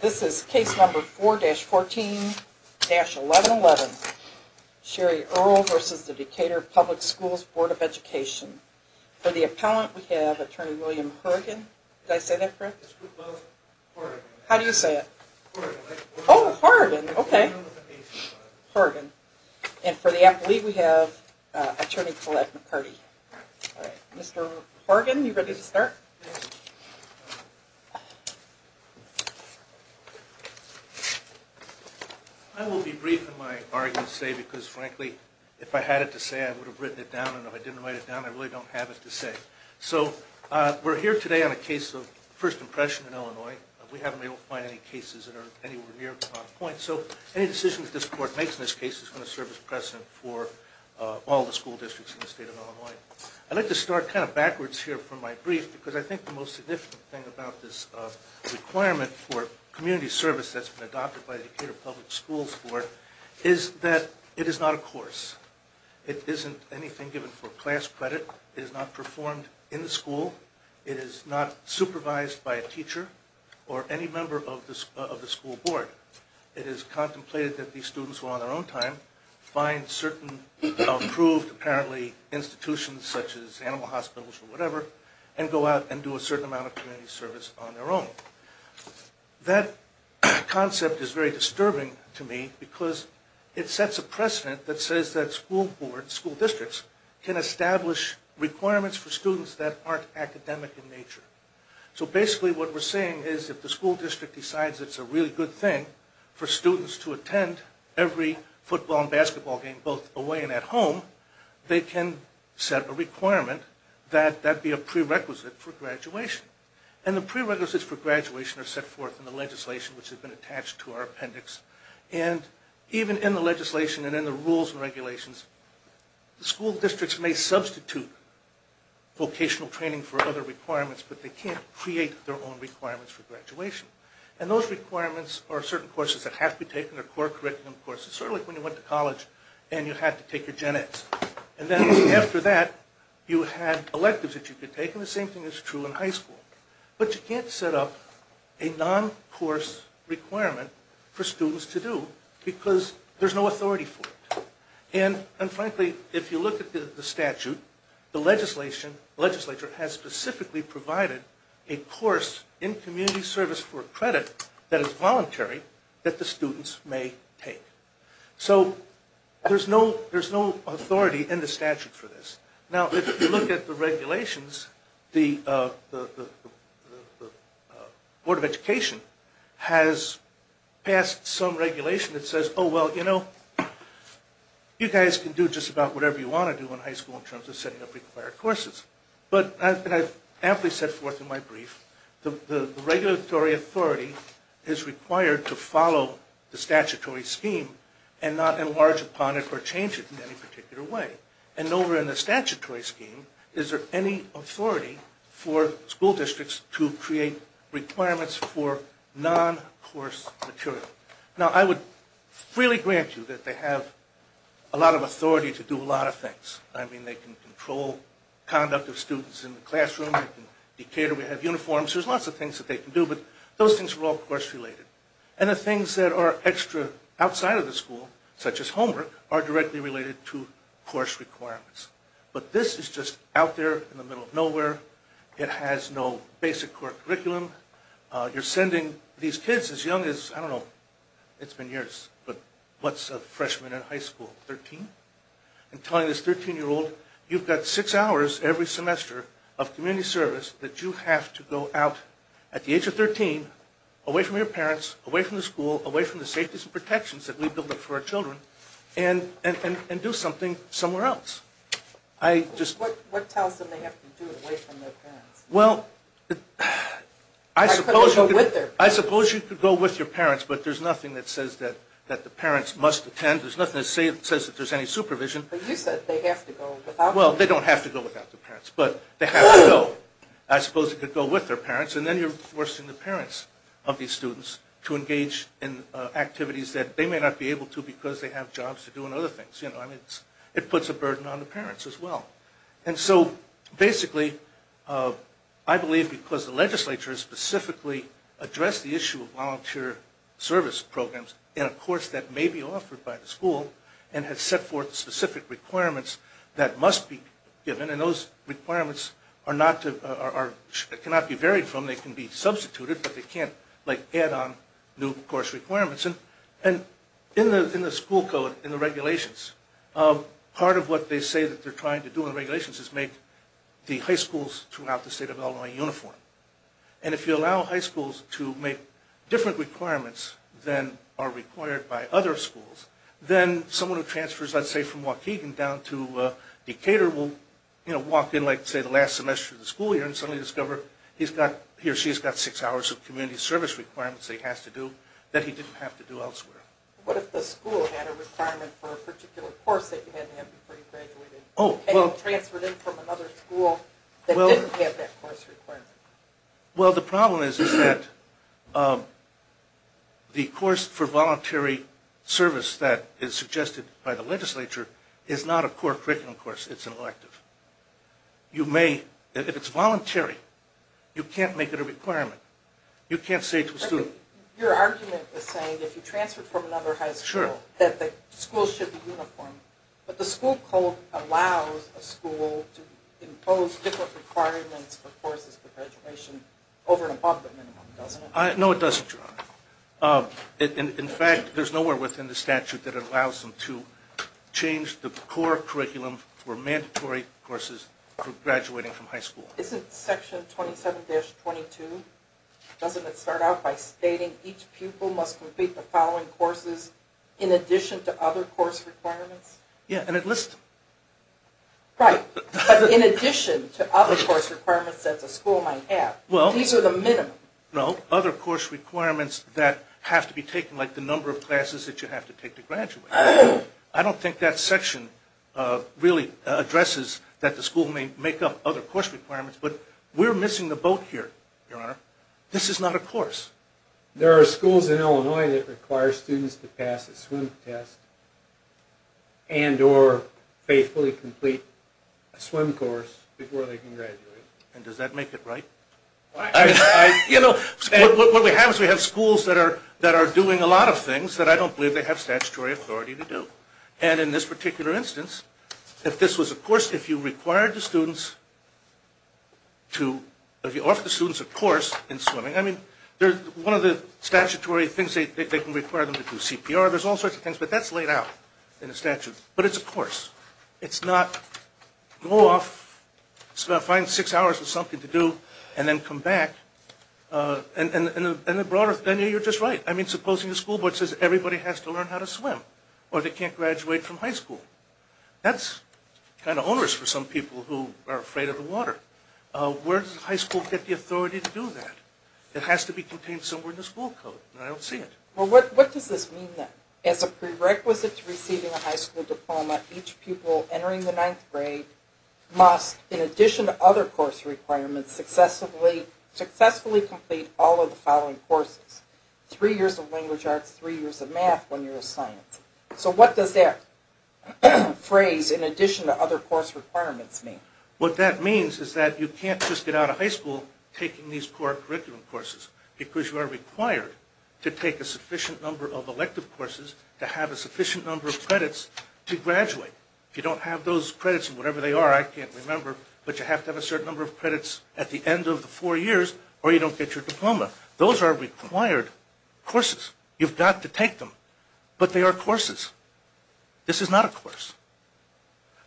This is case number 4-14-1111. Sherry Earl versus the Decatur Public Schools Board of Education. For the appellant, we have attorney William Horrigan. Did I say that correct? How do you say it? Oh, Horrigan. Okay. Horrigan. And for the athlete, we have attorney Collette McCurdy. Mr. Horrigan, you ready to start? I will be brief in my argument today because, frankly, if I had it to say, I would have written it down. And if I didn't write it down, I really don't have it to say. So we're here today on a case of first impression in Illinois. We haven't been able to find any cases that are anywhere near on point. So any decision that this court makes in this case is going to serve as precedent for all the school districts in the state of Illinois. I'd like to start kind of backwards here from my thing about this requirement for community service that's been adopted by the Decatur Public Schools Board is that it is not a course. It isn't anything given for class credit. It is not performed in the school. It is not supervised by a teacher or any member of the school board. It is contemplated that these students, who are on their own time, find certain approved, apparently, institutions such as animal hospitals or whatever, and go out and do a certain amount of community service on their own. That concept is very disturbing to me because it sets a precedent that says that school board, school districts, can establish requirements for students that aren't academic in nature. So basically what we're saying is if the school district decides it's a really good thing for students to attend every football and basketball game, both away and at home, they can set a requirement that that be a prerequisite for graduation. And the prerequisites for graduation are set forth in the legislation which has been attached to our appendix. And even in the legislation and in the rules and regulations, the school districts may substitute vocational training for other requirements, but they can't create their own requirements for graduation. And those requirements are certain courses that have to be taken or curriculum courses, sort of like when you went to college and you had to take your Gen-X. And then after that, you had electives that you could take, and the same thing is true in high school. But you can't set up a non-course requirement for students to do because there's no authority for it. And frankly, if you look at the statute, the legislature has specifically provided a course in community service for credit that is voluntary that the students may take. So there's no authority in the statute for this. Now if you look at the regulations, the Board of Education has passed some regulation that says, oh well, you know, you guys can do just about whatever you want to do in high school in terms of setting up required courses. But I've amply set forth in my brief, the regulatory authority is required to follow the statutory scheme and not enlarge upon it or change it in any particular way. And over in the statutory scheme, is there any authority for school districts to create requirements for non-course material? Now I would freely grant you that they have a lot of authority to do a lot of things. I mean, they can control conduct of students in the classroom. In Decatur we have uniforms. There's lots of things that they can do, but those things are all course related. And the things that are extra outside of the school, such as homework, are directly related to course requirements. But this is just out there in the middle of nowhere. It has no basic core curriculum. You're sending these kids as young as, I don't know, it's been years, but what's a freshman in high school, 13? And telling this 13-year-old, you've got six hours every semester of community service that you have to go out at the age of 13, away from your parents, away from the school, away from the safeties and protections that we build up for our children, and do something somewhere else. What tells them they have to do it away from their parents? Well, I suppose you could go with your parents, but there's nothing that says that the parents must attend. There's nothing that says that there's any supervision. But you said they have to go without their parents. Well, they don't have to go without their parents, but they have to go. I suppose you could go with their parents, and then you're forcing the parents of these students to engage in activities that they may not be able to because they have jobs to do and other things. It puts a burden on the parents as well. And so, basically, I believe because the legislature has specifically addressed the service programs in a course that may be offered by the school and has set forth specific requirements that must be given, and those requirements cannot be varied from, they can be substituted, but they can't add on new course requirements. And in the school code, in the regulations, part of what they say that they're trying to do in regulations is make the high schools throughout the state of Illinois uniform. And if you allow high schools to make different requirements than are required by other schools, then someone who transfers, let's say, from Waukegan down to Decatur will walk in, say, the last semester of the school year and suddenly discover he or she has got six hours of community service requirements that he has to do that he didn't have to do elsewhere. What if the school had a requirement for a particular course that you had to have before you graduated and you transferred in from another school that the course for voluntary service that is suggested by the legislature is not a core curriculum course, it's an elective. You may, if it's voluntary, you can't make it a requirement. You can't say to a student. Your argument is saying if you transferred from another high school that the school should be uniform, but the school code allows a school to impose different requirements for courses for graduation over and above the minimum, doesn't it? No, it doesn't. In fact, there's nowhere within the statute that it allows them to change the core curriculum for mandatory courses for graduating from high school. Isn't section 27-22, doesn't it start out by stating each pupil must complete the following courses in addition to other course requirements? Yeah, and it lists them. Right, but in addition to other course requirements that the school might have, these are the minimum. No, other course requirements that have to be taken, like the number of classes that you have to take to graduate. I don't think that section really addresses that the school may make up other course requirements, but we're missing the boat here, Your Honor. This is not a course. There are schools in Illinois that require students to pass a swim test and or faithfully complete a swim course before they can graduate. And does that make it right? You know, what we have is we have schools that are that are doing a lot of things that I don't believe they have statutory authority to do. And in this particular instance, if this was a course, if you required the students to, if you offer the students a course in swimming, I mean, one of the statutory things, they can require them to do CPR. There's all sorts of things, but that's laid out in the statute. But it's a course. It's not go off, find six hours of something to do and then come back. And the broader thing, you're just right. I mean, supposing the school board says everybody has to learn how to swim or they can't graduate from high school. That's kind of onerous for some people who are afraid of the water. Where does the high school have the authority to do that? It has to be contained somewhere in the school code. And I don't see it. Well, what does this mean then? As a prerequisite to receiving a high school diploma, each pupil entering the ninth grade must, in addition to other course requirements, successfully successfully complete all of the following courses. Three years of language arts, three years of math, one year of science. So what does that phrase in addition to other course requirements mean? What that means is that you can't just get out of high school taking these core curriculum courses because you are required to take a sufficient number of elective courses to have a sufficient number of credits to graduate. If you don't have those credits in whatever they are, I can't remember, but you have to have a certain number of credits at the end of the four years or you don't get your diploma. Those are required courses. You've got to take them. But they are courses. This is not a course.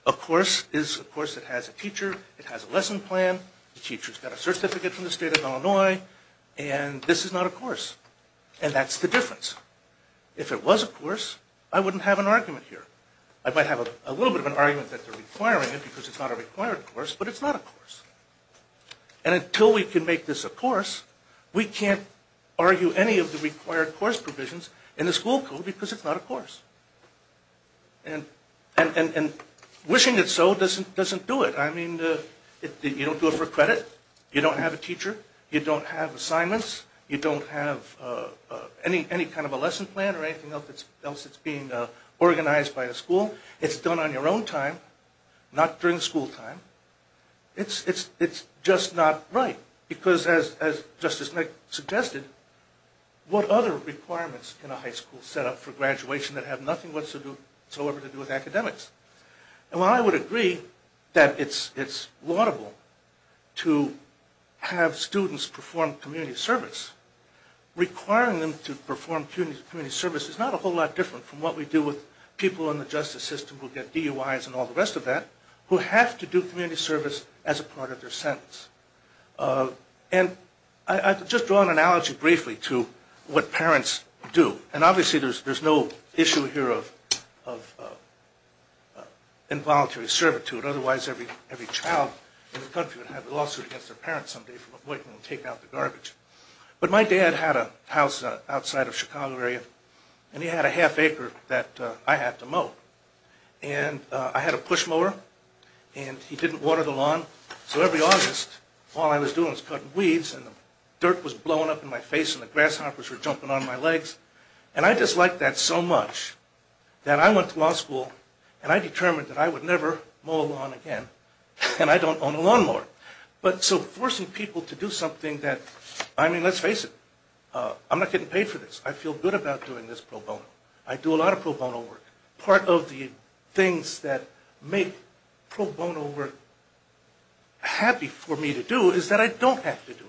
A course is a course that has a lesson plan, the teacher's got a certificate from the state of Illinois, and this is not a course. And that's the difference. If it was a course, I wouldn't have an argument here. I might have a little bit of an argument that they're requiring it because it's not a required course, but it's not a course. And until we can make this a course, we can't argue any of the required course provisions in the school code because it's not a course. And wishing it so doesn't do it. I mean, you don't do it for credit. You don't have a teacher. You don't have assignments. You don't have any kind of a lesson plan or anything else that's being organized by the school. It's done on your own time, not during school time. It's just not right because, as Justice Nick suggested, what other requirements can a high school set up for graduation that have nothing whatsoever to do with academics? Well, I would agree that it's laudable to have students perform community service. Requiring them to perform community service is not a whole lot different from what we do with people in the justice system who get DUIs and all the rest of that, who have to do community service as a part of their sentence. And I've just drawn an analogy briefly to what parents do. And obviously, there's no issue here of involuntary servitude. Otherwise, every child in the country would have a lawsuit against their parents someday for avoiding taking out the garbage. But my dad had a house outside of Chicago area, and he had a half acre that I had to mow. And I had a push mower, and he didn't water the lawn. So every August, all I was doing was cutting weeds, and the dirt was blowing up in my face, and the grasshoppers were jumping on my legs. And I disliked that so much that I went to law school, and I determined that I would never mow a lawn again. And I don't own a lawn mower. But so forcing people to do something that, I mean, let's face it, I'm not getting paid for this. I feel good about doing this pro bono. I do a lot of pro bono work. Part of the things that make pro bono work happy for me to do is that I don't have to do it.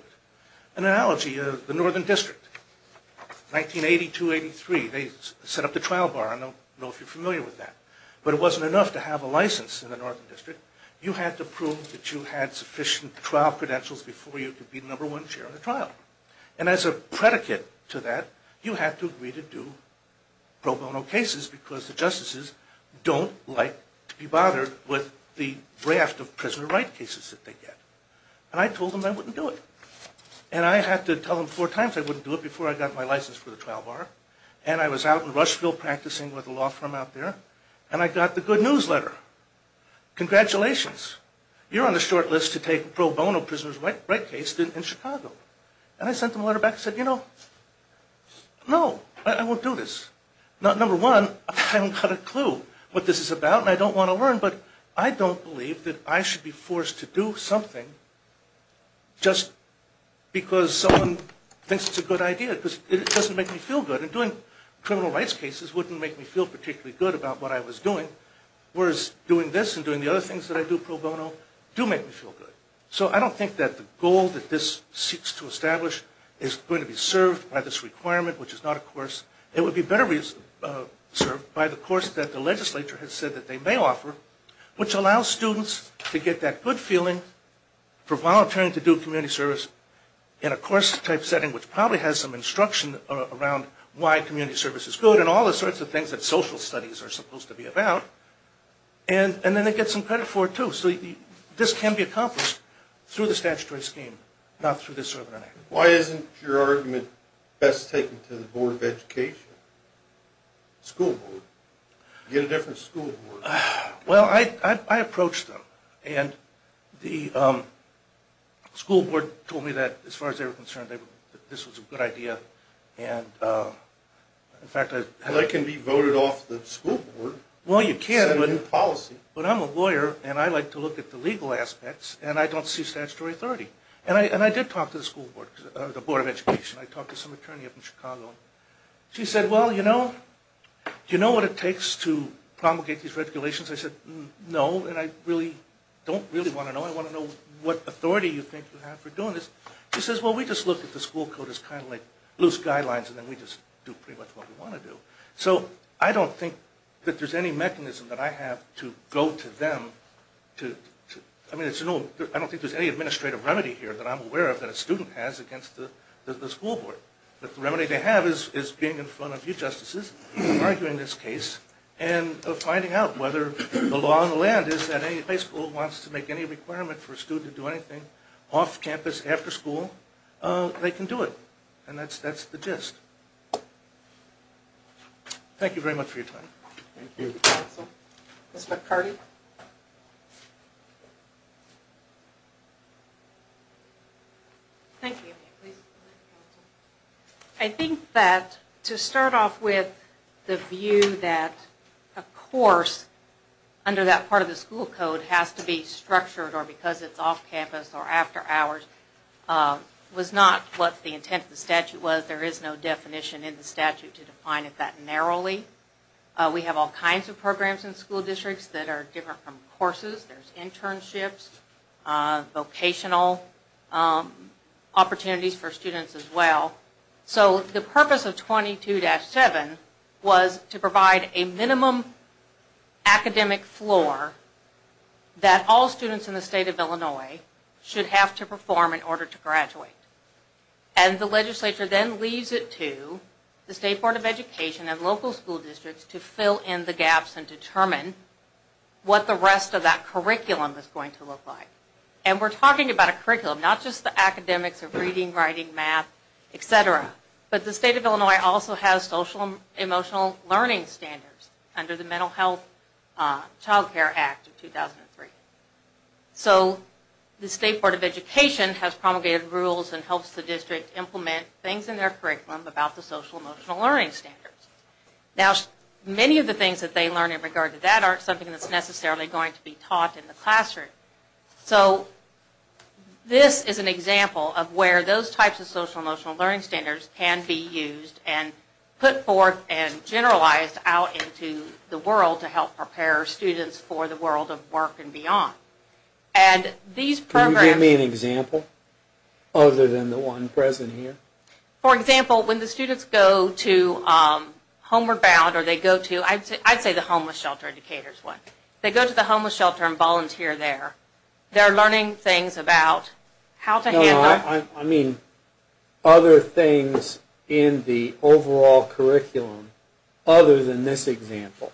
An analogy, the Northern District, 1982-83, they set up the trial bar. I don't know if you're familiar with that. But it wasn't enough to have a license in the Northern District. You had to prove that you had sufficient trial credentials before you could be the number one chair of the trial. And as a predicate to that, you had to agree to do pro bono cases, because the justices don't like to be bothered with the prisoner of right cases that they get. And I told them I wouldn't do it. And I had to tell them four times I wouldn't do it before I got my license for the trial bar. And I was out in Rushville practicing with a law firm out there, and I got the good newsletter. Congratulations, you're on the short list to take pro bono prisoner's right case in Chicago. And I sent them a letter back and said, you know, no, I won't do this. Number one, I don't have a clue what this is about, and I don't want to learn. But I don't believe that I should be forced to do something just because someone thinks it's a good idea, because it doesn't make me feel good. And doing criminal rights cases wouldn't make me feel particularly good about what I was doing, whereas doing this and doing the other things that I do pro bono do make me feel good. So I don't think that the goal that this seeks to establish is going to be served by this requirement, which is not a course. It would be better served by the course that the legislature has said that they may offer, which allows students to get that good feeling for volunteering to do community service in a course type setting, which probably has some instruction around why community service is good and all the sorts of things that social studies are supposed to be about. And then they get some credit for it too. So this can be accomplished through the statutory scheme, not through this sort of an act. Why isn't your argument best taken to the Board of Education, school board? You get a different school board. Well, I approached them, and the school board told me that as far as they were concerned, this was a good idea, and in fact... Well, they can be voted off the school board. Well, you can, but I'm a lawyer, and I like to look at the school board. And I did talk to the school board, the Board of Education. I talked to some attorney up in Chicago. She said, well, you know what it takes to promulgate these regulations? I said, no, and I don't really want to know. I want to know what authority you think you have for doing this. She says, well, we just look at the school code as kind of like loose guidelines, and then we just do pretty much what we want to do. So I don't think that there's any mechanism that I have to go to them to... I mean, I don't think there's any administrative remedy here that I'm aware of that a student has against the school board. But the remedy they have is being in front of you justices, arguing this case, and finding out whether the law on the land is that any high school wants to make any requirement for a student to do anything off campus, after school, they can do it. And that's the gist. Thank you very much for your time. Thank you, counsel. Ms. McCarty? Thank you. I think that to start off with the view that a course under that part of the school code has to be structured or because it's off campus or after hours was not what the intent of the statute was. There is no definition in the statute to define it that narrowly. We have all kinds of programs in school districts that are different from courses. There's internships, vocational opportunities for students as well. So the purpose of 22-7 was to provide a minimum academic floor that all students in the state of Illinois should have to perform in order to graduate. And the legislature then leaves it to the State Board of Education and local school districts to fill in the gaps and determine what the rest of that curriculum is going to look like. And we're talking about a curriculum, not just the academics of reading, writing, math, etc. But the state of Illinois also has social emotional learning standards under the Mental Health Child Care Act of 2003. So the State Board of Education has promulgated rules and helps the district implement things in their curriculum about the social emotional learning standards. Now many of the things that they learn in regard to that aren't something that's necessarily going to be taught in the classroom. So this is an example of where those types of social emotional learning standards can be used and put forth and generalized out into the world to help prepare students for the world of work and beyond. Can you give me an example other than the one present here? For example, when the students go to Homeward Bound or they go to, I'd say the homeless shelter in Decatur is one, they go to the homeless shelter and volunteer there. They're learning things about how to handle... No, I mean other things in the overall curriculum other than this example.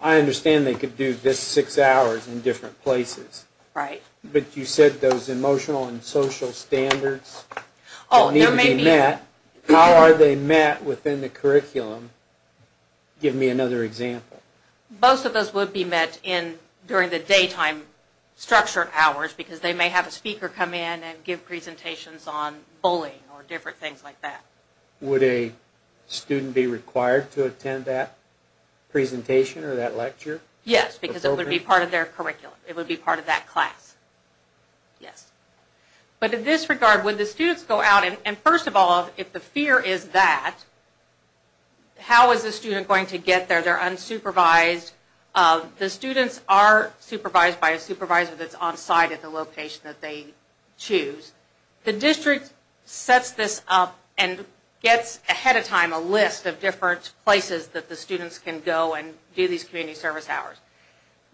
I understand they could do this six hours in different places. Right. But you said those emotional and social standards need to be met. How are they met within the curriculum? Give me another example. Most of those would be met during the daytime structured hours because they may have a speaker come in and give presentations on bullying or different things like that. Would a student be required to attend that presentation or that lecture? Yes, because it would be part of their curriculum. It would be part of that class. Yes. But in this regard, when the students go out and first of all, if the fear is that, how is the student going to get there? They're unsupervised. The students are supervised by a supervisor that's on site at the location that they choose. The district sets this up and gets ahead of time a list of different places that the students can go and do these community service hours.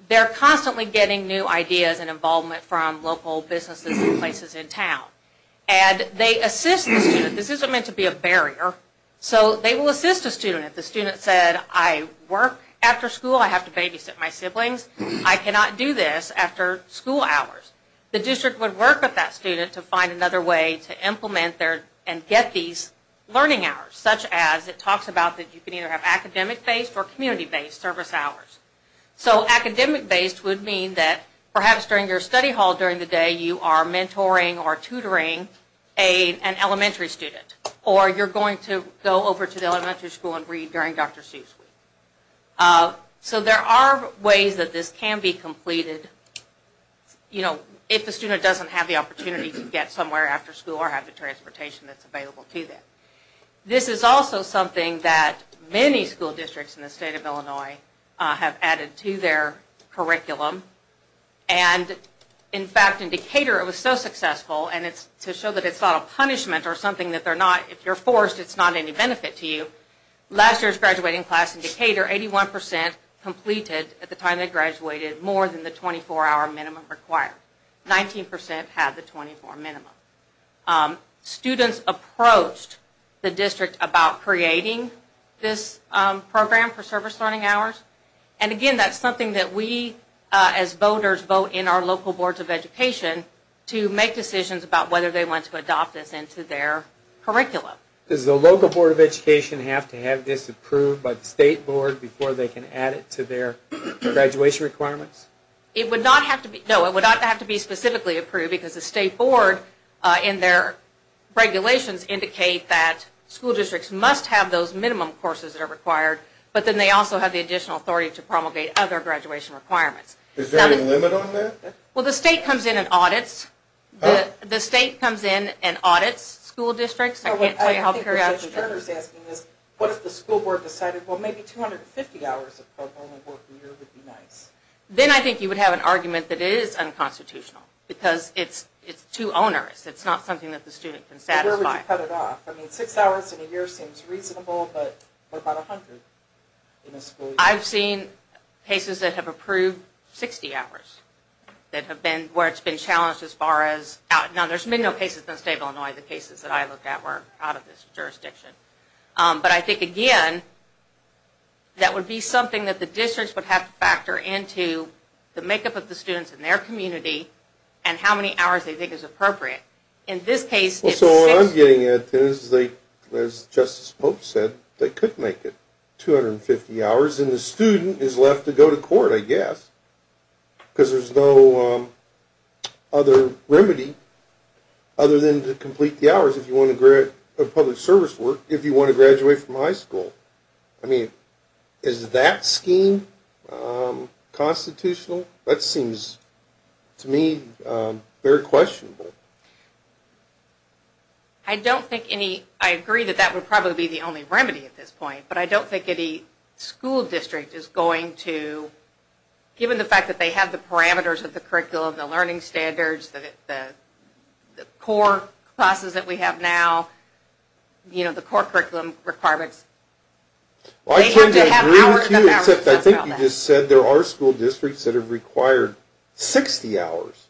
They're constantly getting new ideas and involvement from local businesses and places in town and they assist the student. This isn't meant to be a barrier. So they will assist a student. If the student said, I work after school, I have to babysit my siblings, I cannot do this after school hours. The district would work with that student to find another way to implement their and get these learning hours such as it talks about that you can either have academic based or community based service hours. So academic based would mean that perhaps during your study hall during the day you are mentoring or tutoring an elementary student or you're going to go over to the elementary school and read during Dr. Seuss week. So there are ways that this can be completed you know, if the student doesn't have the opportunity to get somewhere after school or have the transportation that's available to them. This is also something that many school districts in the state of Illinois have added to their curriculum and in fact in Decatur it was so successful and it's to show that it's not a punishment or something that they're not if you're forced it's not any benefit to you. Last year's graduating class in Decatur, 81 percent completed at the time they graduated more than the 24 hour minimum required. 19 percent had the 24 hour minimum. Students approached the district about creating this program for service learning hours and again that's something that we as voters vote in our local boards of education to make decisions about whether they want to adopt this into their curriculum. Does the local board of education have to have this approved by the state board before they can add it to their graduation requirements? It would not have to be, no it would not have to be specifically approved because the state board in their regulations indicate that school districts must have those minimum courses that are required but then they also have the additional authority to promulgate other graduation requirements. Is there a limit on that? Well the state comes in and audits, the state comes in and audits school districts. I can't tell you how periodically. I think Judge Turner's asking this, what if the school board decided well maybe 250 hours of programming work a year would be nice? Then I think you would have an argument that it is unconstitutional because it's too onerous. It's not something that the student can satisfy. Where would you cut it off? I mean six hours in a year seems reasonable but what about a hundred in a school year? I've seen cases that have approved 60 hours that have been where it's been challenged as far as, now there's been no cases in the state of Illinois, the cases that I look at were out of this jurisdiction but I think again that would be something that the districts would have to factor into the makeup of the students in their community and how many hours they think is appropriate. In this case, so what I'm getting at is they, as Justice Pope said, they could make it 250 hours and the student is left to go to court I guess because there's no other remedy other than to complete the hours if you want to graduate, of public service work, if you want to graduate from high school. I mean is that scheme constitutional? That seems to me very questionable. I don't think any, I agree that that would probably be the only remedy at this point, but I don't think any school district is going to, given the fact that they have the parameters of the curriculum, the learning standards, the core classes that we have now, you know the core curriculum requirements. I think you just said there are school districts that have required 60 hours.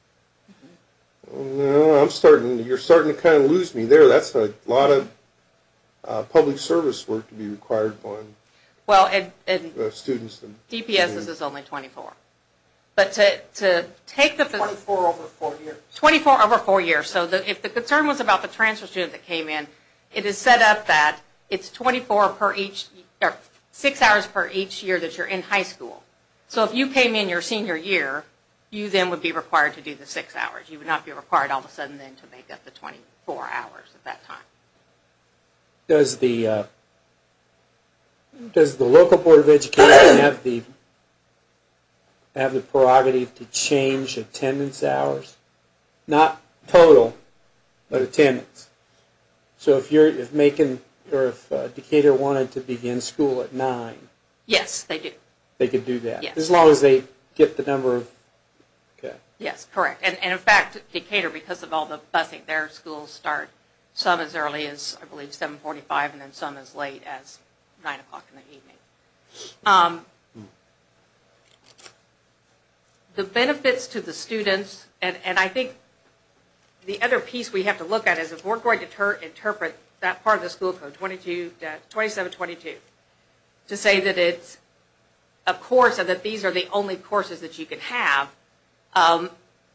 I'm starting, you're starting to kind of lose me there. That's a lot of public service work to be required on students. DPS's is only 24, but to take the 24 over four years, 24 over four years, so that if the concern was about the transfer student that came in, it is set up that it's 24 per each, or six hours per each year that you're in high school. So if you came in your senior year, you then would be required to do the six hours. You would not be required all of a sudden then to make up the 24 hours at that time. Does the, does the local board of education have the, have the prerogative to change attendance hours? Not total, but attendance. So if you're, if Macon, or if Decatur wanted to begin school at nine. Yes, they do. They could do that, as long as they get the number of, okay. Yes, correct, and in fact Decatur, because of all the busing, their schools start some as early as I believe 745 and then some as late as nine o'clock in the evening. The benefits to the students, and I think the other piece we have to look at is if we're going to interpret that part of the school code 22, 27-22, to say that it's a course, and that these are the only courses that you can have,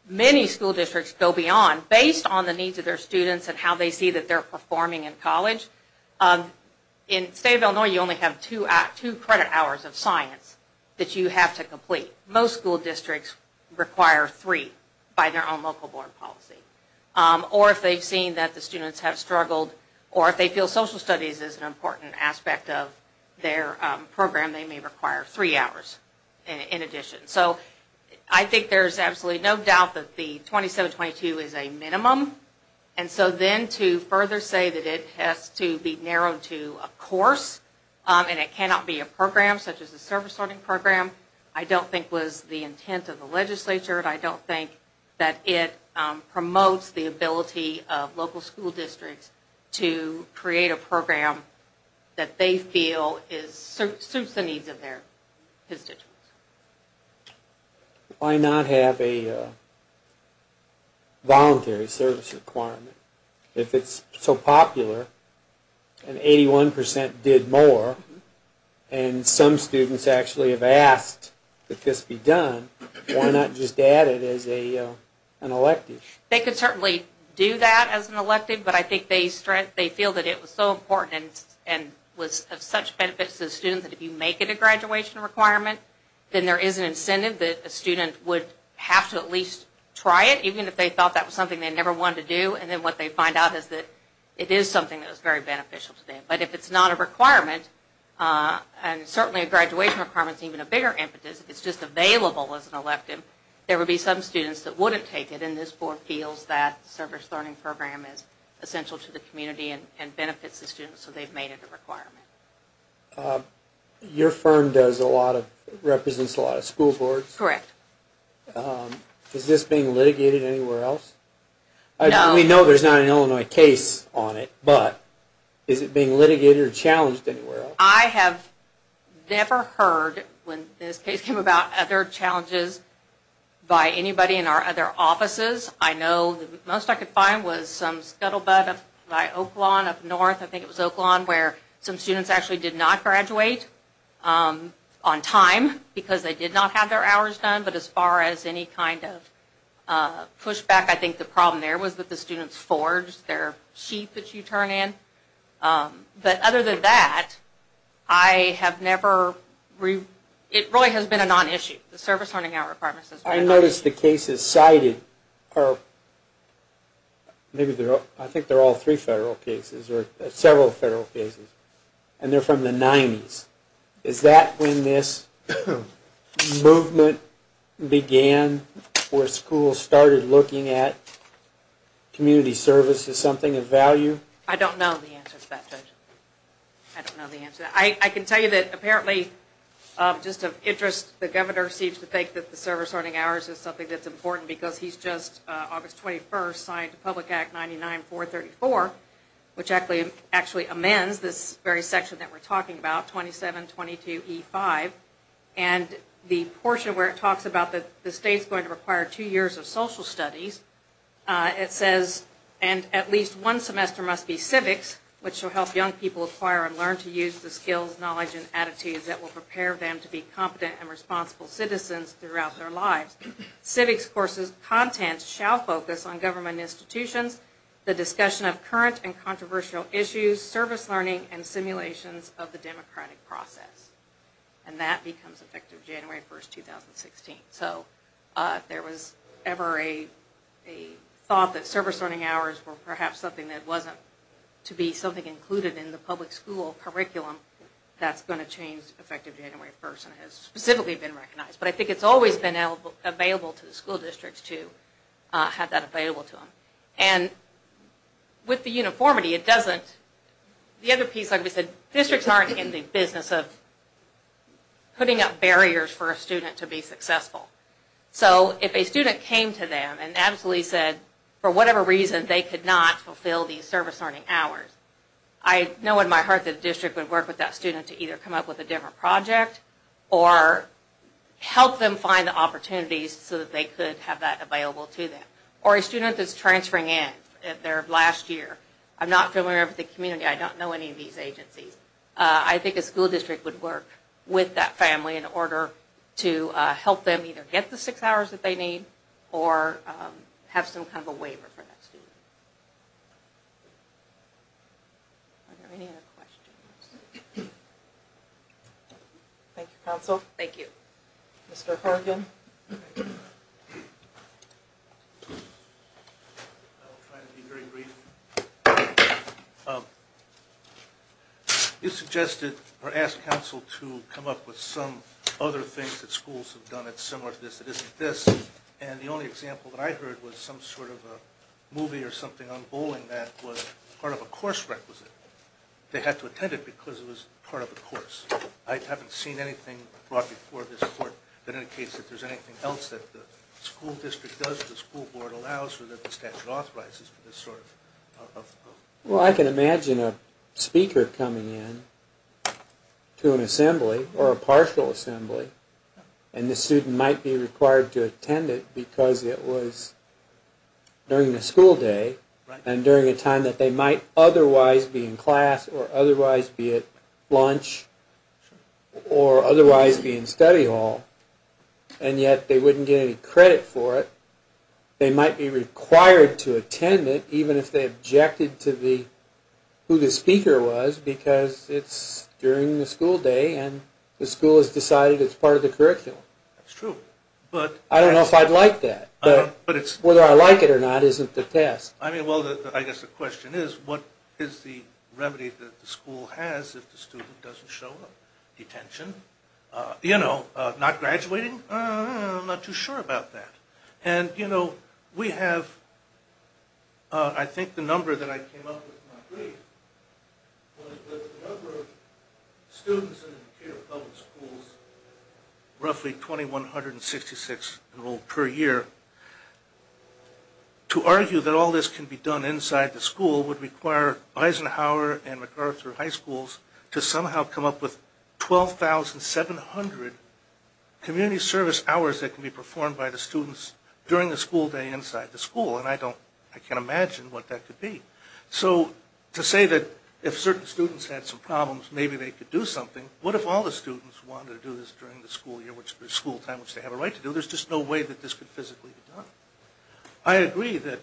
many school districts go beyond based on the needs of their students and how they see that they're performing in college. In the state of Illinois, you only have two credit hours of science that you have to complete. Most school districts require three by their own local board policy, or if they've seen that the students have struggled, or if they feel social studies is an important aspect of their program, they may require three hours in addition. So I think there's absolutely no doubt that the 27-22 is a minimum, and so then to further say that it has to be narrowed to a course, and it cannot be a program such as a service learning program, I don't think was the intent of the legislature, and I don't think that it promotes the ability of local school districts to create a program that they feel suits the needs of their constituents. Why not have a voluntary service requirement? If it's so popular, and 81% did more, and some students actually have asked that this be done, why not just add it as an elective? They could certainly do that as an elective, but I think they feel that it was so important, and was of such benefits to the students that if you make it a graduation requirement, then there is an incentive that a student would have to at least try it, even if they thought that was something they never wanted to do, and then what they find out is that it is something that is very beneficial to them. But if it's not a requirement, and certainly a graduation requirement is even a bigger impetus, if it's just available as an elective, there would be some students that wouldn't take it, and this board feels that service learning program is essential to the community and benefits the students, so they've made it a requirement. Your firm represents a lot of school boards? Correct. Is this being litigated anywhere else? No. We know there's not an Illinois case on it, but is it being litigated or challenged anywhere else? I have never heard, when this case came about, other challenges by anybody in our other offices. I know the most I could find was some scuttlebutt up by Oak Lawn up north, I think it was Oak Lawn, where some students actually did not graduate on time, because they did not have their hours done, but as far as any kind of pushback, I think the problem there was that the students forged their sheet that you turn in. But other than that, I have never, it really has been a non-issue, the service learning out requirements. I noticed the cases cited are, maybe they're, I think they're all three federal cases, or several federal cases, and they're from the 90s. Is that when this movement began, where schools started looking at community service as something of value? I don't know the answer to that, Judge. I don't know the answer. I can tell you that apparently, just of interest, the governor seems to think that the service learning hours is something that's important, because he's just, August 21st, signed Public Act 99-434, which actually amends this very section that we're talking about, 2722E5, and the portion where it talks about that the state's going to require two years of social studies, it says, and at least one semester must be civics, which will help young people acquire and learn to use the skills, knowledge, and attitudes that will prepare them to be competent and responsible citizens throughout their lives. Civics courses content shall focus on government institutions, the discussion of current and controversial issues, service learning, and simulations of the democratic process. And that becomes effective January 1st, 2016. So if there was ever a thought that service learning hours were perhaps something that wasn't to be something included in the public school curriculum, that's going to change effective January 1st, and has specifically been recognized. But I think it's always been available to the school districts to have that available to them. And with the uniformity, it doesn't, the other piece, like we said, districts aren't in the business of putting up barriers for a student to be successful. So if a student came to them and absolutely said, for whatever reason, they could not fulfill these service learning hours, I know in my heart that the district would work with that student to either come up with a different project or help them find the opportunities so that they could have that available to them. Or a student that's transferring in their last year, I'm not familiar with the community, I don't know any of these agencies, I think a school district would work with that family in order to help them either get the six hours that they need or have some kind of a waiver for that student. Are there any other questions? Thank you, counsel. Thank you. Mr. Horgan. I'll try to be very brief. You suggested or asked counsel to come up with some other things that schools have done that's this and the only example that I heard was some sort of a movie or something on bowling that was part of a course requisite. They had to attend it because it was part of a course. I haven't seen anything brought before this court that indicates that there's anything else that the school district does, the school board allows, or that the statute authorizes for this sort of... Well, I can imagine a speaker coming in to an assembly or a partial assembly and the student might be required to attend it because it was during the school day and during a time that they might otherwise be in class or otherwise be at lunch or otherwise be in study hall and yet they wouldn't get any credit for it. They might be required to attend it even if they objected to who the speaker was because it's during the school day and the school has decided it's part of the curriculum. That's true. I don't know if I'd like that but whether I like it or not isn't the test. I mean, well, I guess the question is what is the remedy that the school has if the student doesn't show up? Detention? You know, not graduating? I'm not too sure about that and, you know, we have, I think the number that I came up with, students in public schools roughly 2,166 enrolled per year. To argue that all this can be done inside the school would require Eisenhower and MacArthur high schools to somehow come up with 12,700 community service hours that can be performed by the students during the school day inside the school and I don't, I can't imagine what that could be. So to say that if certain students had some problems maybe they could do something, what if all the students wanted to do this during the school year, the school time which they have a right to do, there's just no way that this could physically be done. I agree that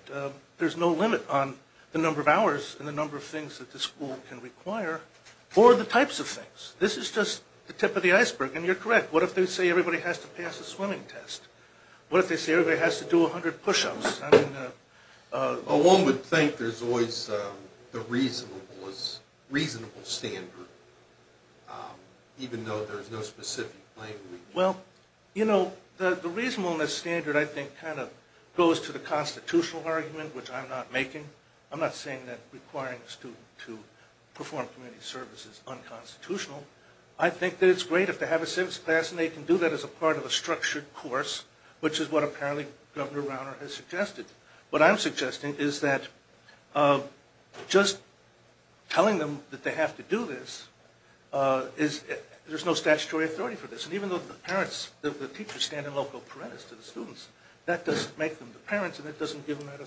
there's no limit on the number of hours and the number of things that the school can require or the types of things. This is just the tip of the iceberg and you're correct. What if they say everybody has to pass the swimming test? What if they say everybody has to do 100 push-ups? Well one would think there's always the reasonable standard even though there's no specific language. Well, you know, the reasonableness standard I think kind of goes to the constitutional argument which I'm not making. I'm not saying that requiring a student to perform community service is unconstitutional. I think that it's great if they have a civics class and they can do that as a part of a structured course which is what apparently Governor Rauner has suggested. What I'm suggesting is that just telling them that they have to do this is, there's no statutory authority for this and even though the parents, the teachers stand in local parentis to the students, that doesn't make them the parents and it doesn't give them that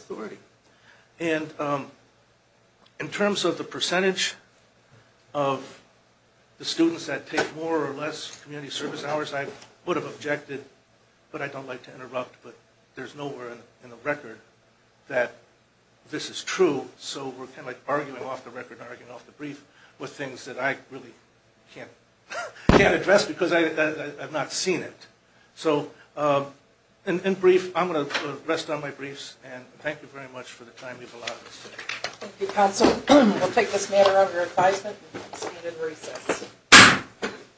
community service hours. I would have objected but I don't like to interrupt but there's nowhere in the record that this is true so we're kind of like arguing off the record, arguing off the brief with things that I really can't address because I have not seen it. So in brief, I'm going to rest on my briefs and thank you very much for the time you've allotted us today. Thank you,